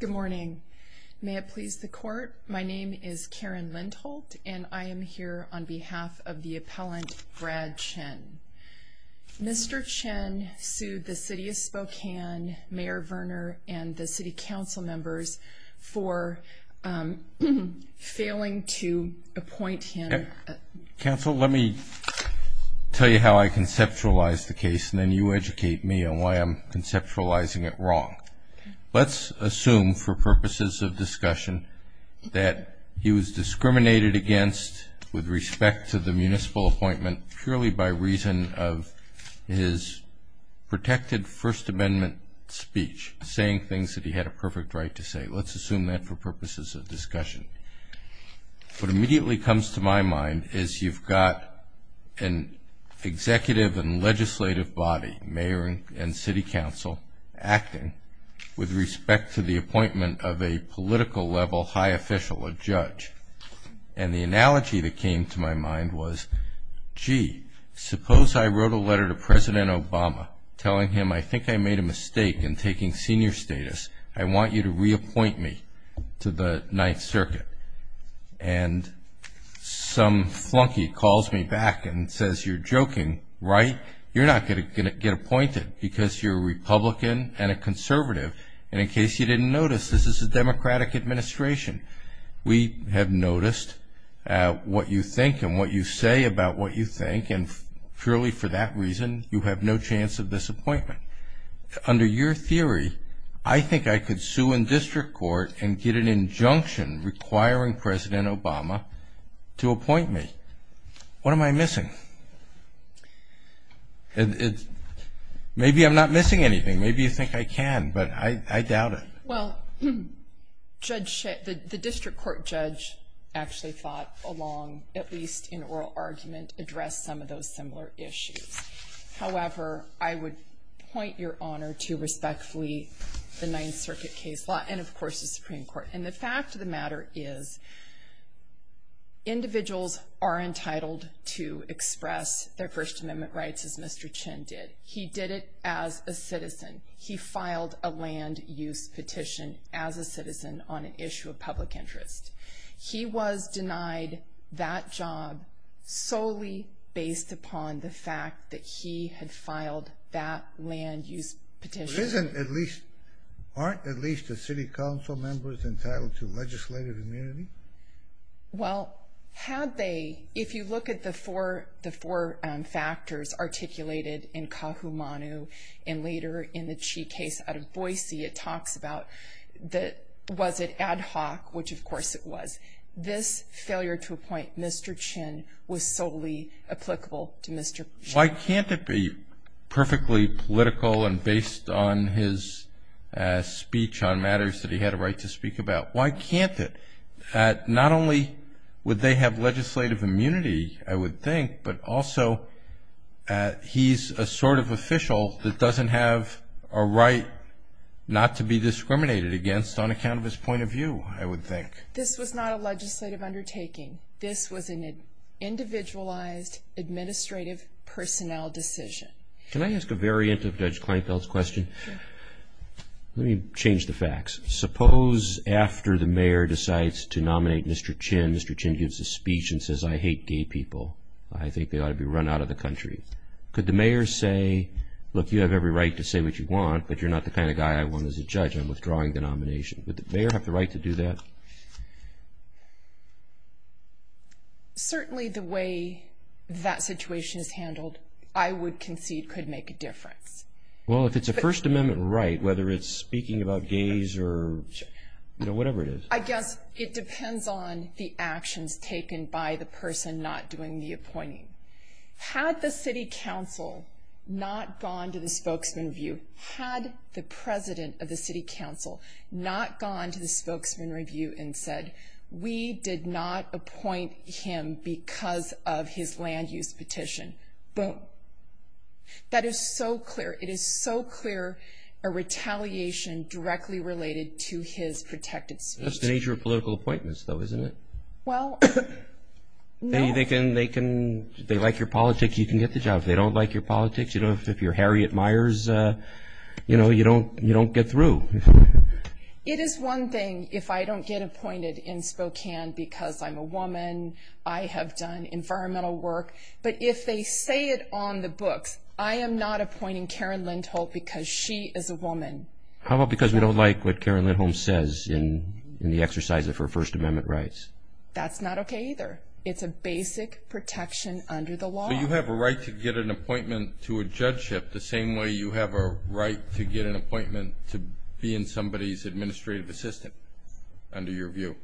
Good morning. May it please the Court, my name is Karen Lindholt, and I am here on behalf of the appellant Brad Chinn. Mr. Chinn sued the City of Spokane, Mayor Verner, and the City Council members for failing to appoint him... Let's assume for purposes of discussion that he was discriminated against with respect to the municipal appointment purely by reason of his protected First Amendment speech, saying things that he had a perfect right to say. Let's assume that for purposes of discussion. What immediately comes to my mind is you've got an executive and legislative body, Mayor and City Council, acting with respect to the appointment of a political-level high official, a judge. And the analogy that came to my mind was, gee, suppose I wrote a letter to President Obama telling him I think I made a And some flunky calls me back and says, you're joking, right? You're not going to get appointed because you're a Republican and a conservative. And in case you didn't notice, this is a Democratic administration. We have noticed what you think and what you say about what you think, and purely for that Obama to appoint me. What am I missing? Maybe I'm not missing anything. Maybe you think I can, but I doubt it. Well, the district court judge actually thought along, at least in oral argument, addressed some of those similar issues. However, I would point your And of course, the Supreme Court. And the fact of the matter is, individuals are entitled to express their First Amendment rights as Mr. Chin did. He did it as a citizen. He filed a land-use petition as a citizen on an issue of public interest. He was denied that job solely based upon the fact that he had filed that Isn't at least, aren't at least the city council members entitled to legislative immunity? Well, had they, if you look at the four factors articulated in Kahumanu and later in the Chi case out of Boise, it talks about was it ad hoc, which of course it was. This failure to appoint Mr. Chin was solely applicable to Mr. Chin. Why can't it be perfectly political and based on his speech on matters that he had a right to speak about? Why can't it? Not only would they have legislative immunity, I would think, but also he's a sort of official that doesn't have a right not to be discriminated against on account of his point of view, I would think. This was not a legislative undertaking. This was an individualized administrative personnel decision. Can I ask a variant of Judge Kleinfeld's question? Let me change the facts. Suppose after the mayor decides to nominate Mr. Chin, Mr. Chin gives a speech and says, I hate gay people. I think they ought to be run out of the country. Could the mayor say, look, you have every right to say what you want, but you're not the mayor? Certainly the way that situation is handled, I would concede could make a difference. Well, if it's a First Amendment right, whether it's speaking about gays or whatever it is. I guess it depends on the actions taken by the person not doing the appointing. Had the city council not gone to the spokesman review, had the president of the state said, we did not appoint him because of his land use petition. Boom. That is so clear. It is so clear a retaliation directly related to his protected speech. That's the nature of political appointments, though, isn't it? Well, no. They can, they can, they like your politics, you can get the job. If they don't like your politics, you know, if you're Harriet Myers, you know, you don't, you don't get through. It is one thing if I don't get appointed in Spokane because I'm a woman, I have done environmental work, but if they say it on the books, I am not appointing Karen Lindholm because she is a woman. How about because we don't like what Karen Lindholm says in the exercise of her First Amendment rights? That's not okay either. It's a basic protection under the law. So you have a right to get an appointment to a judgeship the same way you have a right to get an appointment to be in somebody's administrative assistant, under your view.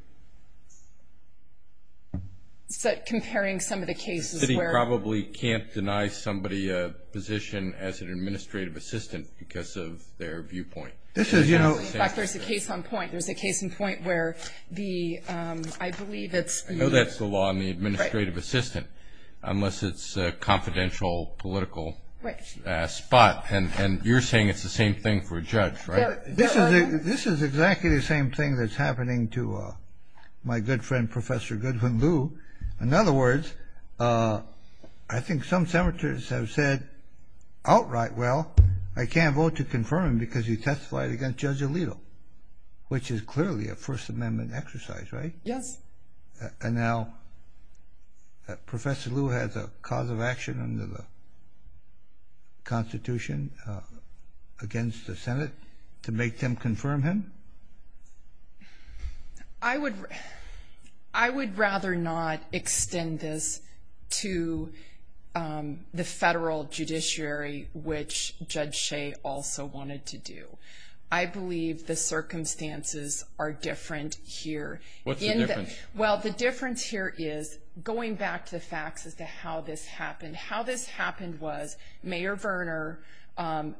It's that comparing some of the cases where... The city probably can't deny somebody a position as an administrative assistant because of their viewpoint. This is, you know... In fact, there's a case on point. There's a case in point where the, I believe it's... I know that's the law in the administrative assistant, unless it's a confidential political spot. And you're saying it's the same thing for a judge, right? This is exactly the same thing that's happening to my good friend, Professor Goodwin Liu. In other words, I think some senators have said outright, well, I can't vote to confirm him because he testified against Judge Alito, which is clearly a First Amendment exercise, right? Yes. And now Professor Liu has a cause of action under the Constitution against the Senate to make them confirm him? I would rather not extend this to the federal judiciary, which Judge Shea also wanted to do. I believe the circumstances are different here. What's the difference? Well, the difference here is, going back to the facts as to how this happened. How this happened was, Mayor Verner,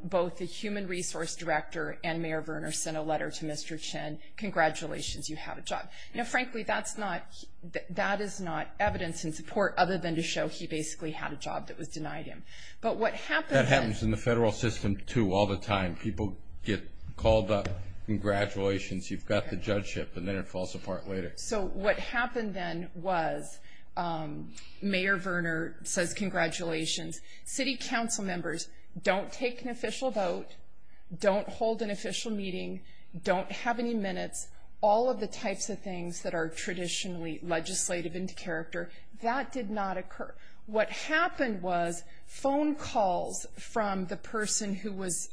both the human resource director and Mayor Verner, sent a letter to Mr. Chen. Congratulations, you have a job. Now, frankly, that is not evidence in support other than to show he basically had a job that was denied him. But what happens... That happens in the federal system, too, all the time. People get called up, congratulations, you've got the judgeship, and then it falls apart later. So what happened then was, Mayor Verner says congratulations. City council members don't take an official vote, don't hold an official meeting, don't have any minutes, all of the types of things that are traditionally legislative in character, that did not occur. What happened was, phone calls from the person whose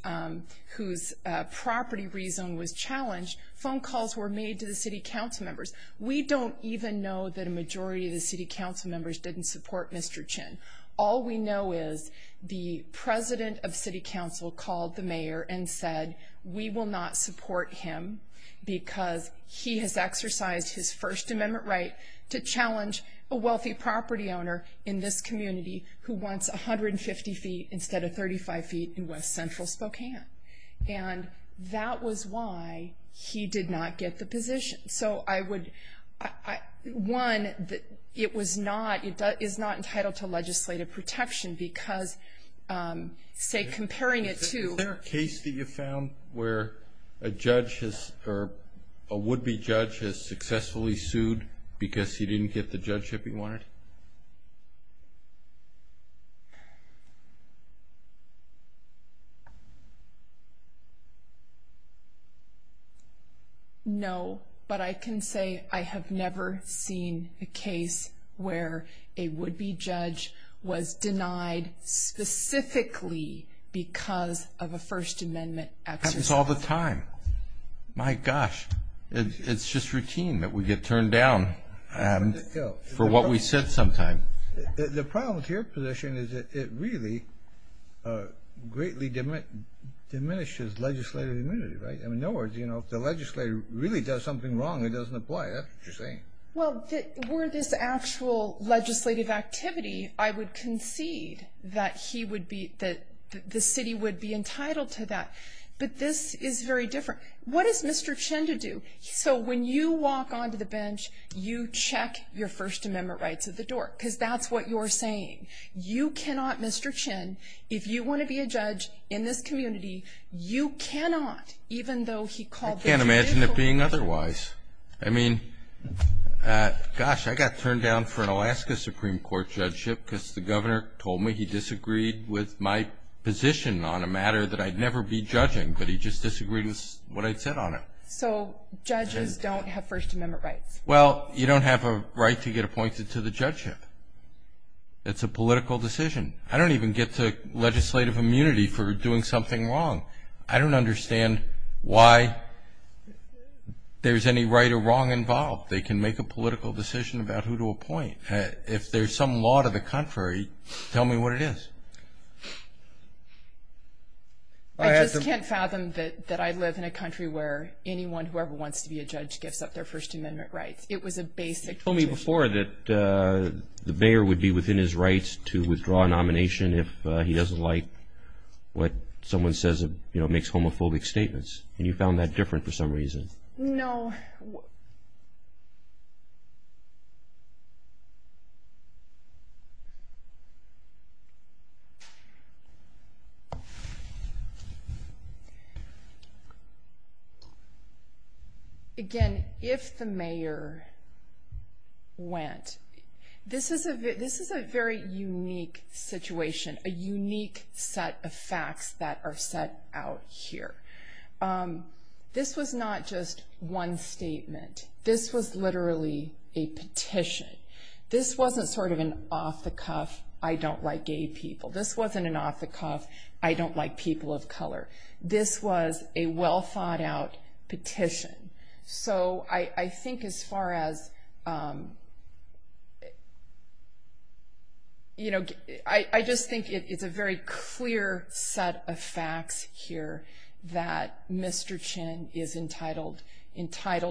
property rezone was challenged, phone calls were made to the city council members. We don't even know that a majority of the city council members didn't support Mr. Chen. All we know is the president of city council called the mayor and said, we will not support him because he has exercised his First Amendment right to challenge a wealthy property owner in this community who wants 150 feet instead of 35 feet in West Central Spokane. And that was why he did not get the position. So I would, one, it was not, it is not entitled to legislative protection because, say, comparing it to... Do you know where a judge has, or a would-be judge has successfully sued because he didn't get the judgeship he wanted? No, but I can say I have never seen a case where a would-be judge was denied specifically because of a First Amendment exercise. Happens all the time. My gosh. It's just routine that we get turned down for what we said sometime. The problem with your position is that it really greatly diminishes legislative immunity, right? In other words, you know, if the legislator really does something wrong, it doesn't apply. That's what you're saying. Well, were this actual legislative activity, I would concede that he would be, that the city would be entitled to that. But this is very different. What is Mr. Chin to do? So when you walk onto the bench, you check your First Amendment rights at the door because that's what you're saying. You cannot, Mr. Chin, if you want to be a judge in this community, you cannot, I can't imagine it being otherwise. I mean, gosh, I got turned down for an Alaska Supreme Court judgeship because the governor told me he disagreed with my position on a matter that I'd never be judging, but he just disagreed with what I'd said on it. So judges don't have First Amendment rights? Well, you don't have a right to get appointed to the judgeship. It's a political decision. I don't even get to legislative immunity for doing something wrong. I don't understand why there's any right or wrong involved. They can make a political decision about who to appoint. If there's some law to the contrary, tell me what it is. I just can't fathom that I live in a country where anyone, whoever wants to be a judge, gives up their First Amendment rights. It was a basic position. You told me before that the mayor would be within his rights to withdraw a nomination if he doesn't like what someone says makes homophobic statements, and you found that different for some reason. No. No. Again, if the mayor went, this is a very unique situation, a unique set of facts that are set out here. This was not just one statement. This was literally a petition. This wasn't sort of an off-the-cuff, I don't like gay people. This wasn't an off-the-cuff, I don't like people of color. This was a well-thought-out petition. So I think as far as, you know, I just think it's a very clear set of facts here that Mr. Chin is entitled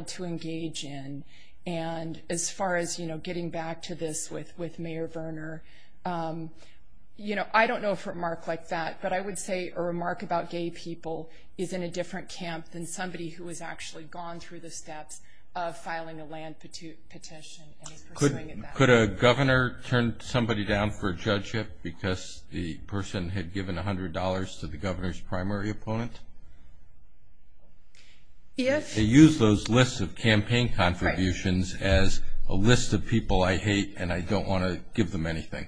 to engage in. And as far as, you know, getting back to this with Mayor Verner, you know, I don't know if a remark like that, but I would say a remark about gay people is in a different camp than somebody who has actually gone through the steps of filing a land petition and is pursuing it now. Could a governor turn somebody down for a judge ship because the person had given $100 to the governor's primary opponent? Yes. They use those lists of campaign contributions as a list of people I hate and I don't want to give them anything.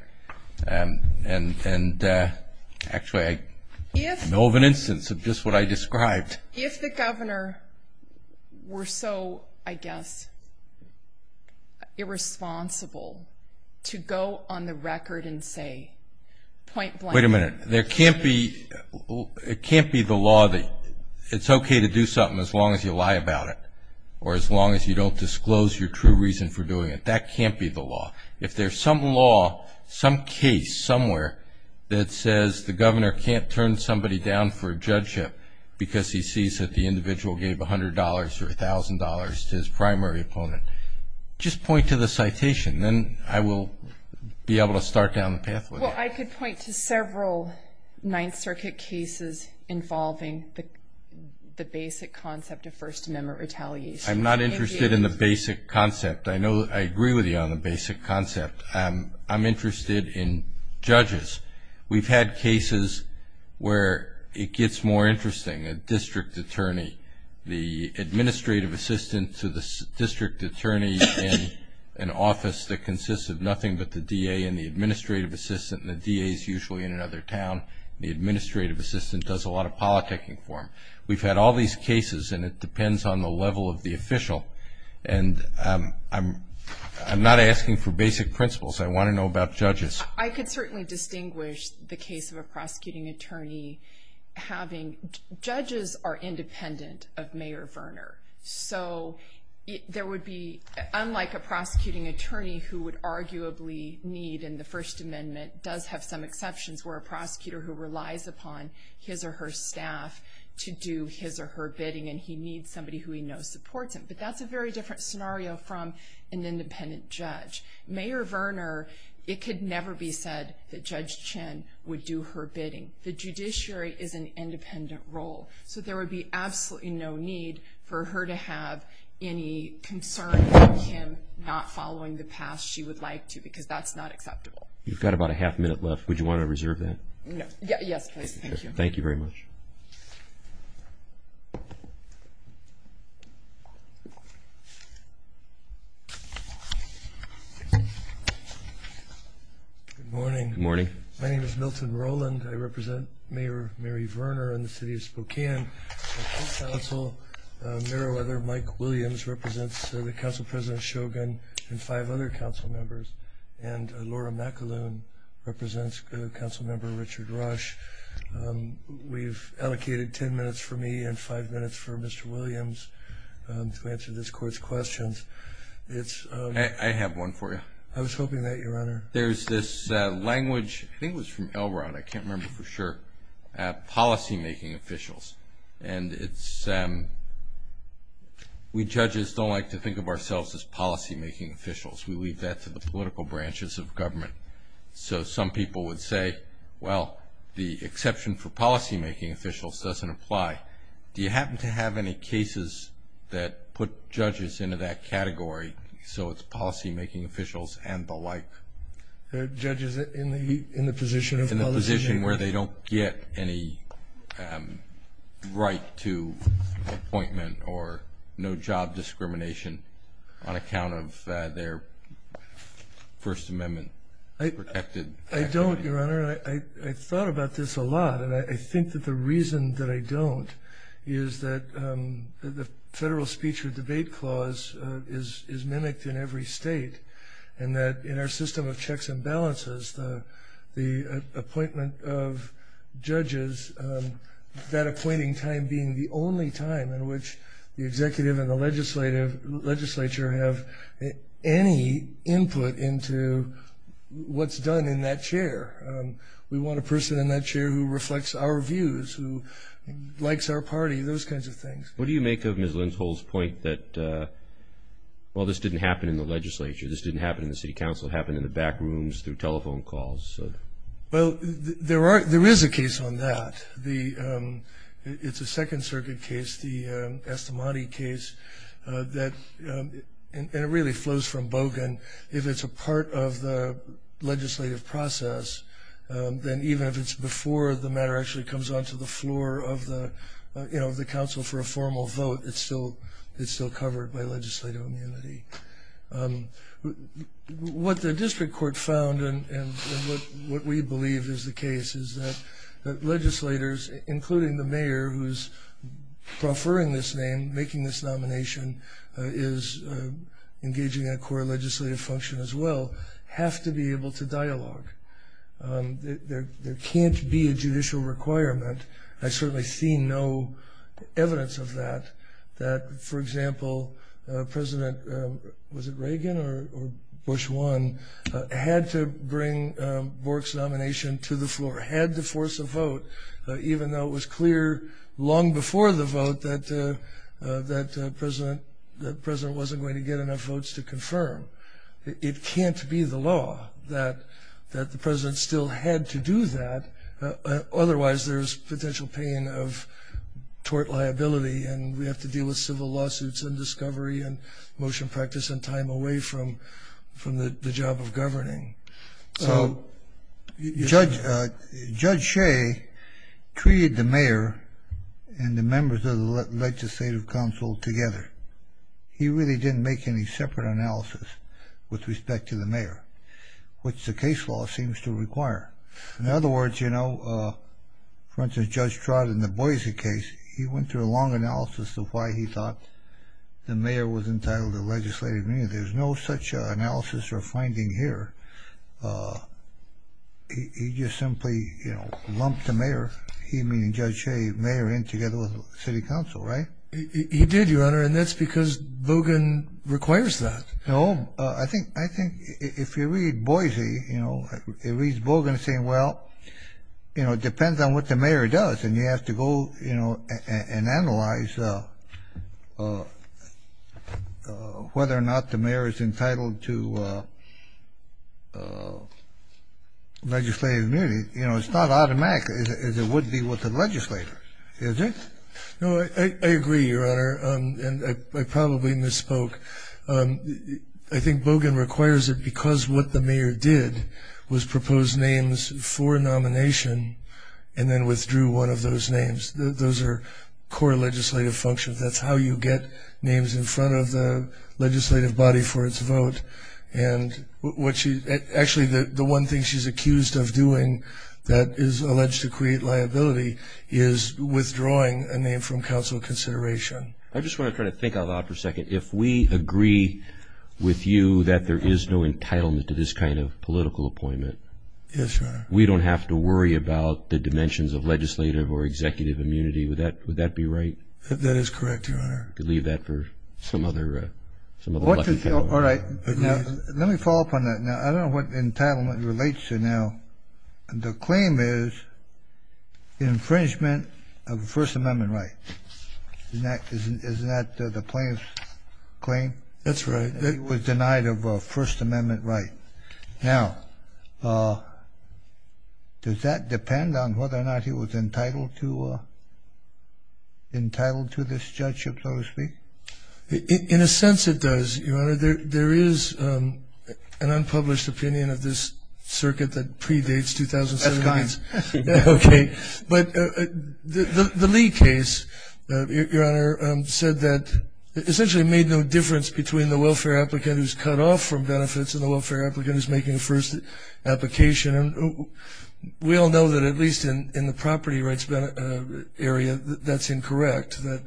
And actually I know of an instance of just what I described. If the governor were so, I guess, irresponsible to go on the record and say point blank. Wait a minute. It can't be the law that it's okay to do something as long as you lie about it or as long as you don't disclose your true reason for doing it. That can't be the law. If there's some law, some case somewhere that says the governor can't turn somebody down for a judge ship because he sees that the individual gave $100 or $1,000 to his primary opponent, just point to the citation. Then I will be able to start down the pathway. Well, I could point to several Ninth Circuit cases involving the basic concept of First Amendment retaliation. I'm not interested in the basic concept. I agree with you on the basic concept. I'm interested in judges. We've had cases where it gets more interesting, a district attorney, the administrative assistant to the district attorney in an office that consists of nothing but the DA and the administrative assistant, and the DA is usually in another town. The administrative assistant does a lot of politicking for him. We've had all these cases, and it depends on the level of the official. And I'm not asking for basic principles. I want to know about judges. I can certainly distinguish the case of a prosecuting attorney having judges are independent of Mayor Verner. So there would be, unlike a prosecuting attorney who would arguably need and the First Amendment does have some exceptions where a prosecutor who relies upon his or her staff to do his or her bidding, and he needs somebody who he knows supports him. But that's a very different scenario from an independent judge. Mayor Verner, it could never be said that Judge Chin would do her bidding. The judiciary is an independent role, so there would be absolutely no need for her to have any concern about him not following the path she would like to because that's not acceptable. You've got about a half minute left. Would you want to reserve that? Yes, please. Thank you. Thank you very much. Thank you. Good morning. Good morning. My name is Milton Rowland. I represent Mayor Mary Verner in the city of Spokane. On this council, Mayor Weather, Mike Williams, represents the Council President Shogan and five other council members, and Laura McAloon represents Council Member Richard Rush. We've allocated ten minutes for me and five minutes for Mr. Williams to answer this court's questions. I have one for you. I was hoping that, Your Honor. There's this language, I think it was from Elrod, I can't remember for sure, policymaking officials. And we judges don't like to think of ourselves as policymaking officials. We leave that to the political branches of government. So some people would say, well, the exception for policymaking officials doesn't apply. Do you happen to have any cases that put judges into that category so it's policymaking officials and the like? There are judges in the position of policymaking. In the position where they don't get any right to appointment or no job discrimination on account of their First Amendment protected activity. I don't, Your Honor. I thought about this a lot. And I think that the reason that I don't is that the federal speech or debate clause is mimicked in every state. And that in our system of checks and balances, the appointment of judges, that appointing time being the only time in which the executive and the legislature have any input into what's done in that chair. We want a person in that chair who reflects our views, who likes our party, those kinds of things. What do you make of Ms. Lindsall's point that, well, this didn't happen in the legislature, this didn't happen in the city council, it happened in the back rooms through telephone calls? Well, there is a case on that. It's a Second Circuit case, the Estamadi case, and it really flows from Bogan. If it's a part of the legislative process, then even if it's before the matter actually comes onto the floor of the council for a formal vote, it's still covered by legislative immunity. What the district court found, and what we believe is the case, is that legislators, including the mayor who's preferring this name, making this nomination, is engaging in a core legislative function as well, have to be able to dialogue. There can't be a judicial requirement. I certainly see no evidence of that, that, for example, President, was it Reagan or Bush I, had to bring Bork's nomination to the floor, had to force a vote, even though it was clear long before the vote that the president wasn't going to get enough votes to confirm. It can't be the law that the president still had to do that, otherwise there's potential pain of tort liability, and we have to deal with civil lawsuits and discovery and motion practice and time away from the job of governing. So Judge Shea treated the mayor and the members of the legislative council together. He really didn't make any separate analysis with respect to the mayor, which the case law seems to require. In other words, you know, for instance, Judge Trott in the Boise case, he went through a long analysis of why he thought the mayor was entitled to legislative immunity. There's no such analysis or finding here. He just simply, you know, lumped the mayor, he meaning Judge Shea, mayor in together with the city council, right? He did, Your Honor, and that's because Bogan requires that. No, I think if you read Boise, you know, it reads Bogan as saying, well, you know, it depends on what the mayor does, and you have to go, you know, and analyze whether or not the mayor is entitled to legislative immunity. You know, it's not automatic as it would be with the legislators, is it? No, I agree, Your Honor, and I probably misspoke. I think Bogan requires it because what the mayor did was propose names for nomination and then withdrew one of those names. Those are core legislative functions. That's how you get names in front of the legislative body for its vote, and actually the one thing she's accused of doing that is alleged to create liability is withdrawing a name from council consideration. I just want to try to think of that for a second. If we agree with you that there is no entitlement to this kind of political appointment, we don't have to worry about the dimensions of legislative or executive immunity. Would that be right? That is correct, Your Honor. I could leave that for some other. All right. Let me follow up on that. Now, I don't know what entitlement relates to now. The claim is infringement of a First Amendment right. Isn't that the plaintiff's claim? That's right. He was denied of a First Amendment right. Now, does that depend on whether or not he was entitled to this judgeship, so to speak? In a sense, it does, Your Honor. There is an unpublished opinion of this circuit that predates 2007. That's kind. Okay. But the Lee case, Your Honor, said that it essentially made no difference between the welfare applicant who's cut off from benefits and the welfare applicant who's making a first application. We all know that at least in the property rights area that's incorrect, that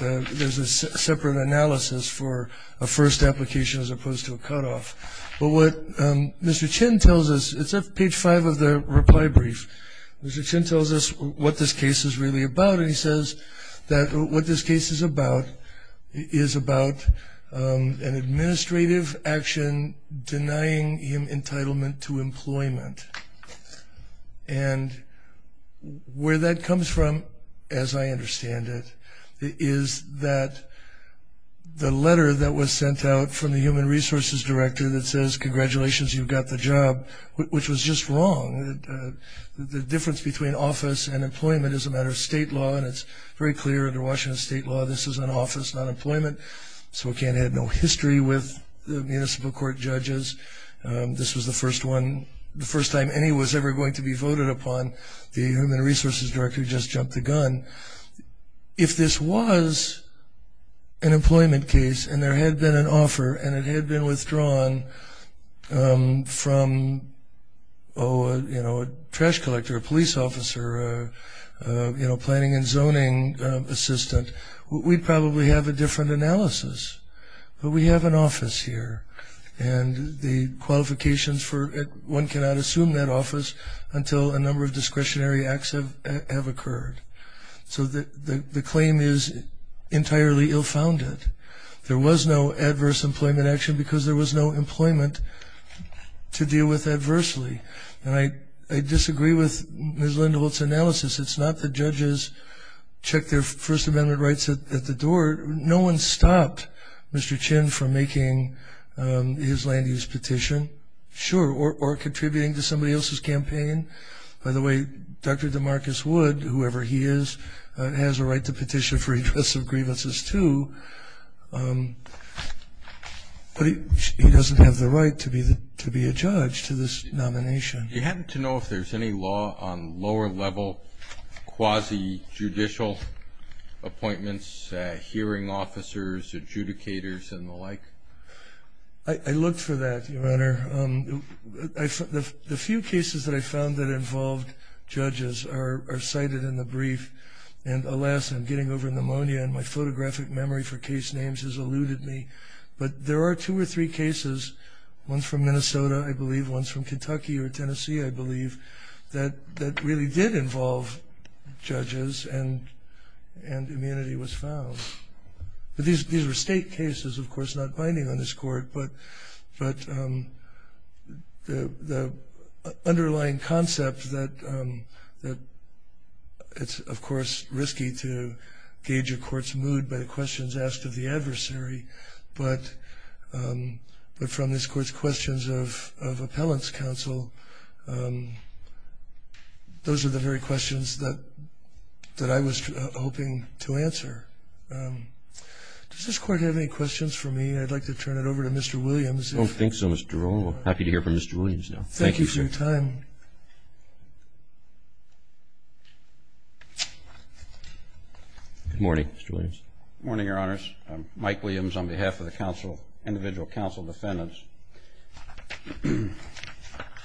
there's a separate analysis for a first application as opposed to a cutoff. But what Mr. Chin tells us, it's at page five of the reply brief, Mr. Chin tells us what this case is really about, and he says that what this case is about is about an administrative action denying him entitlement to employment. And where that comes from, as I understand it, is that the letter that was sent out from the human resources director that says, congratulations, you've got the job, which was just wrong. The difference between office and employment is a matter of state law, and it's very clear under Washington state law this is an office, not employment. So it had no history with the municipal court judges. This was the first time any was ever going to be voted upon. The human resources director just jumped the gun. If this was an employment case, and there had been an offer, and it had been withdrawn from a trash collector, a police officer, a planning and zoning assistant, we'd probably have a different analysis. But we have an office here, and the qualifications for it, one cannot assume that office until a number of discretionary acts have occurred. So the claim is entirely ill-founded. There was no adverse employment action because there was no employment to deal with adversely. And I disagree with Ms. Lindholtz's analysis. It's not the judges check their First Amendment rights at the door. No one stopped Mr. Chin from making his land use petition, sure, or contributing to somebody else's campaign. By the way, Dr. DeMarcus Wood, whoever he is, has a right to petition for redress of grievances too, but he doesn't have the right to be a judge to this nomination. Do you happen to know if there's any law on lower-level quasi-judicial appointments, hearing officers, adjudicators, and the like? I looked for that, Your Honor. The few cases that I found that involved judges are cited in the brief. And alas, I'm getting over pneumonia, and my photographic memory for case names has eluded me. But there are two or three cases, ones from Minnesota, I believe, ones from Kentucky or Tennessee, I believe, that really did involve judges, and immunity was found. But these were state cases, of course, not binding on this Court. But the underlying concept that it's, of course, risky to gauge a court's mood by the questions asked of the adversary, but from this Court's questions of appellant's counsel, those are the very questions that I was hoping to answer. Does this Court have any questions for me? I'd like to turn it over to Mr. Williams. I don't think so, Mr. DeRullo. Happy to hear from Mr. Williams now. Thank you for your time. Good morning, Mr. Williams. Good morning, Your Honors. I'm Mike Williams on behalf of the individual counsel defendants.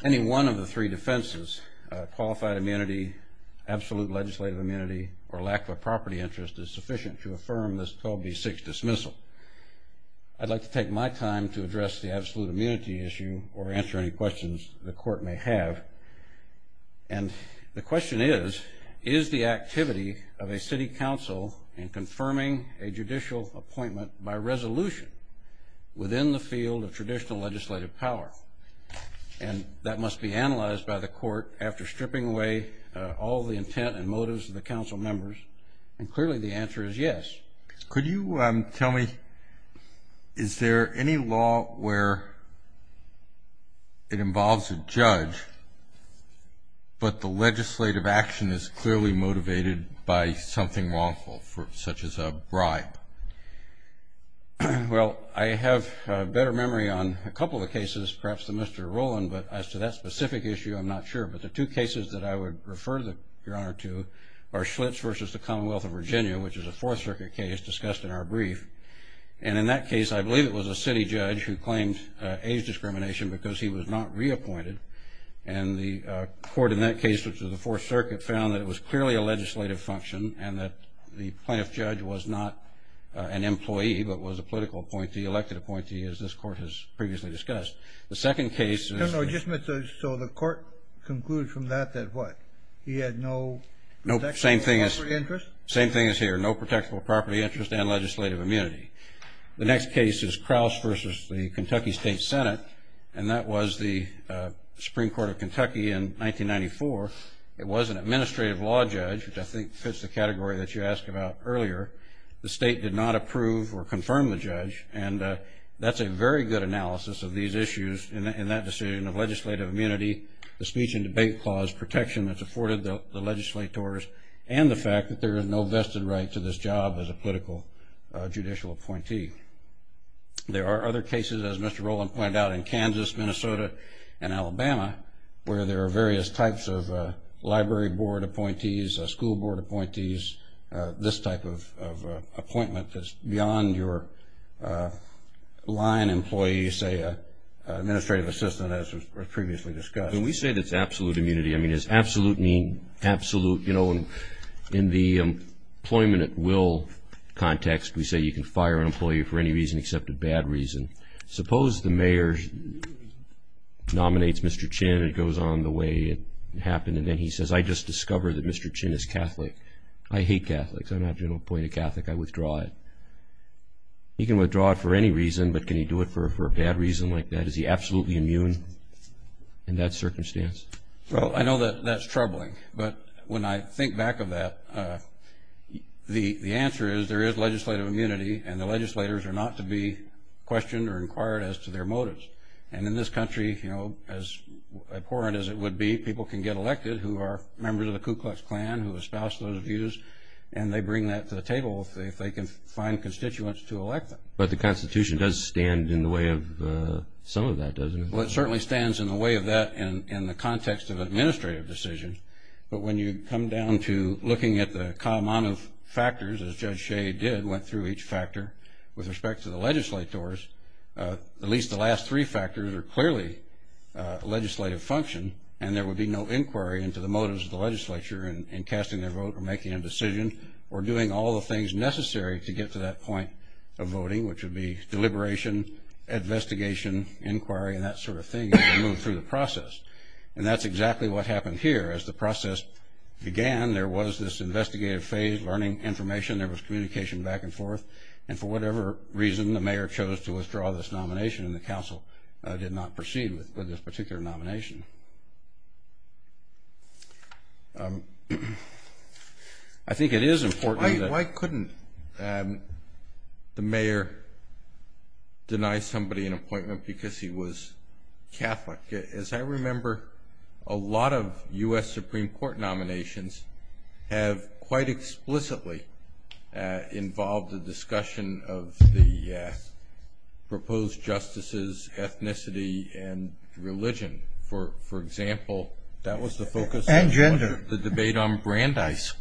Any one of the three defenses, qualified immunity, absolute legislative immunity, or lack of property interest is sufficient to affirm this 12B6 dismissal. I'd like to take my time to address the absolute immunity issue or answer any questions the Court may have. And the question is, is the activity of a city council in confirming a judicial appointment by resolution within the field of traditional legislative power? And that must be analyzed by the Court after stripping away all the intent and motives of the council members. And clearly the answer is yes. Could you tell me, is there any law where it involves a judge, but the legislative action is clearly motivated by something wrongful, such as a bribe? Well, I have a better memory on a couple of cases, perhaps the Mr. Roland, but as to that specific issue I'm not sure. But the two cases that I would refer, Your Honor, to are Schlitz versus the Commonwealth of Virginia, which is a Fourth Circuit case discussed in our brief. And in that case I believe it was a city judge who claimed age discrimination because he was not reappointed. And the Court in that case, which was the Fourth Circuit, found that it was clearly a legislative function and that the plaintiff judge was not an employee, but was a political appointee, elected appointee, as this Court has previously discussed. The second case is – So the Court concluded from that that what? He had no property interest? Same thing as here, no protectable property interest and legislative immunity. The next case is Crouse versus the Kentucky State Senate, and that was the Supreme Court of Kentucky in 1994. It was an administrative law judge, which I think fits the category that you asked about earlier. The state did not approve or confirm the judge, and that's a very good analysis of these issues in that decision of legislative immunity, the speech and debate clause protection that's afforded the legislators, and the fact that there is no vested right to this job as a political judicial appointee. There are other cases, as Mr. Rowland pointed out, in Kansas, Minnesota, and Alabama, where there are various types of library board appointees, school board appointees, this type of appointment that's beyond your line employee, say, administrative assistant, as was previously discussed. When we say that's absolute immunity, I mean, does absolute mean absolute? In the employment at will context, we say you can fire an employee for any reason except a bad reason. Suppose the mayor nominates Mr. Chin and it goes on the way it happened, and then he says, I just discovered that Mr. Chin is Catholic. I hate Catholics. I'm not going to appoint a Catholic. I withdraw it. He can withdraw it for any reason, but can he do it for a bad reason like that? Is he absolutely immune in that circumstance? Well, I know that that's troubling, but when I think back of that, the answer is there is legislative immunity, and the legislators are not to be questioned or inquired as to their motives. And in this country, as abhorrent as it would be, people can get elected who are members of the Ku Klux Klan, who espouse those views, and they bring that to the table if they can find constituents to elect them. But the Constitution does stand in the way of some of that, doesn't it? Well, it certainly stands in the way of that in the context of administrative decision. But when you come down to looking at the common factors, as Judge Shea did, went through each factor with respect to the legislators, at least the last three factors are clearly legislative function, and there would be no inquiry into the motives of the legislature in casting their vote or making a decision or doing all the things necessary to get to that point of voting, which would be deliberation, investigation, inquiry, and that sort of thing, if you move through the process. And that's exactly what happened here. As the process began, there was this investigative phase, learning information. There was communication back and forth. And for whatever reason, the mayor chose to withdraw this nomination, and the council did not proceed with this particular nomination. I think it is important. Why couldn't the mayor deny somebody an appointment because he was Catholic? As I remember, a lot of U.S. Supreme Court nominations have quite explicitly involved the discussion of the proposed justices' ethnicity and religion. For example, that was the focus of the debate on Brandeis.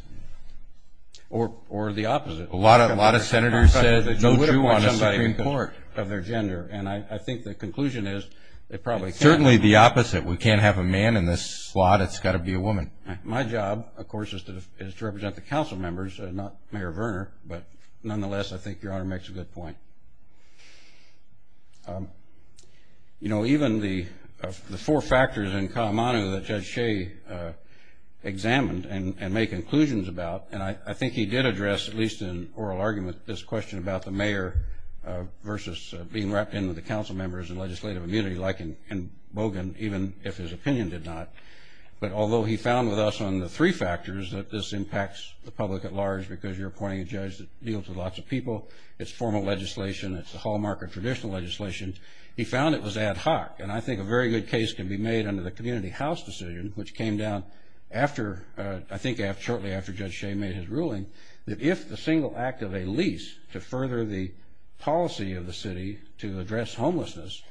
Or the opposite. A lot of senators said no Jew on a Supreme Court of their gender, and I think the conclusion is it probably can't be. Certainly the opposite. We can't have a man in this slot, it's got to be a woman. My job, of course, is to represent the council members, not Mayor Verner, but nonetheless I think Your Honor makes a good point. You know, even the four factors in Kalamata that Judge Shea examined and made conclusions about, and I think he did address, at least in oral argument, this question about the mayor versus being wrapped in with the council members and legislative immunity, like in Bogan, even if his opinion did not. But although he found with us on the three factors that this impacts the public at large because you're appointing a judge that deals with lots of people, it's formal legislation, it's the hallmark of traditional legislation, he found it was ad hoc. And I think a very good case can be made under the community house decision, which came down after, I think shortly after Judge Shea made his ruling, that if the single act of a lease to further the policy of the city to address homelessness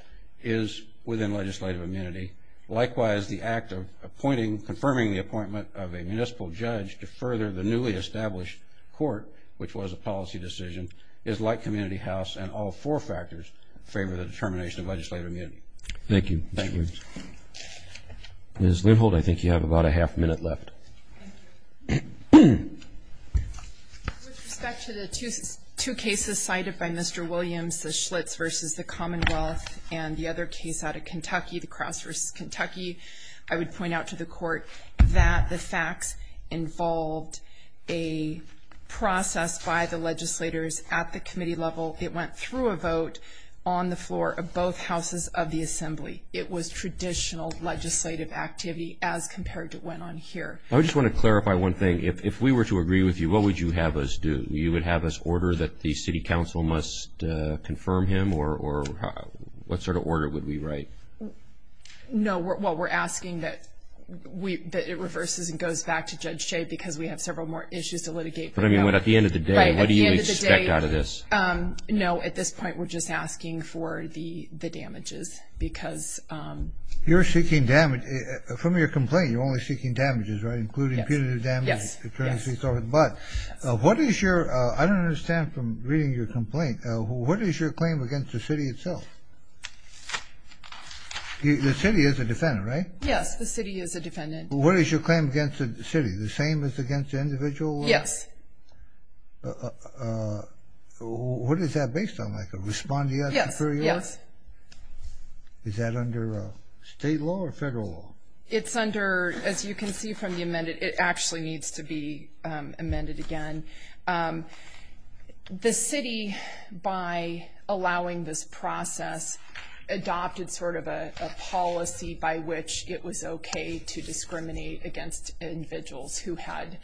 is within legislative immunity, likewise the act of appointing, confirming the appointment of a municipal judge to further the newly established court, which was a policy decision, is like community house and all four factors favor the determination of legislative immunity. Thank you. Ms. Lindholt, I think you have about a half minute left. With respect to the two cases cited by Mr. Williams, the Schlitz versus the Commonwealth and the other case out of Kentucky, the Crouse versus Kentucky, I would point out to the court that the facts involved a process by the legislators at the committee level. It went through a vote on the floor of both houses of the assembly. It was traditional legislative activity as compared to what went on here. I just want to clarify one thing. If we were to agree with you, what would you have us do? You would have us order that the city council must confirm him, or what sort of order would we write? No, what we're asking that it reverses and goes back to Judge Shea because we have several more issues to litigate. But I mean at the end of the day, what do you expect out of this? No, at this point we're just asking for the damages because... You're seeking damage from your complaint. You're only seeking damages, right? Including punitive damages. Yes. But what is your... I don't understand from reading your complaint. What is your claim against the city itself? The city is a defendant, right? Yes, the city is a defendant. What is your claim against the city? The same as against the individual? Yes. What is that based on? Like a respondeat superior? Yes. Is that under state law or federal law? It's under... As you can see from the amendment, it actually needs to be amended again. The city, by allowing this process, adopted sort of a policy by which it was okay to discriminate against individuals who had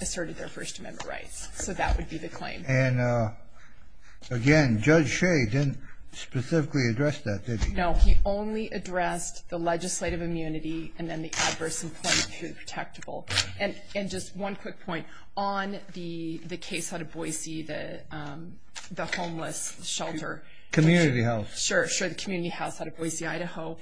asserted their First Amendment rights. So that would be the claim. And again, Judge Shea didn't specifically address that, did he? No, he only addressed the legislative immunity and then the adverse employment through the protectable. And just one quick point. On the case out of Boise, the homeless shelter... Community House. Sure, the Community House out of Boise, Idaho.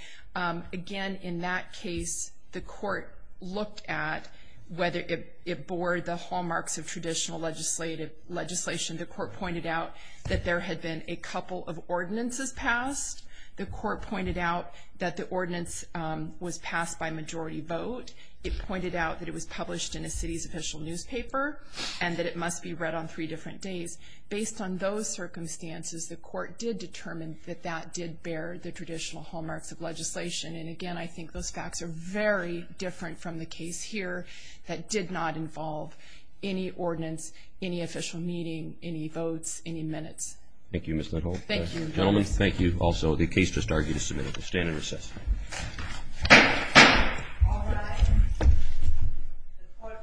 Again, in that case, the court looked at whether it bore the hallmarks of traditional legislation. The court pointed out that there had been a couple of ordinances passed. The court pointed out that the ordinance was passed by majority vote. It pointed out that it was published in a city's official newspaper and that it must be read on three different days. Based on those circumstances, the court did determine that that did bear the traditional hallmarks of legislation. And again, I think those facts are very different from the case here that did not involve any ordinance, any official meeting, any votes, any minutes. Thank you, Ms. Nuttall. Thank you. Gentlemen, thank you. Also, the case just argued is submitted. We'll stand in recess. All rise. The court for this case is adjourned.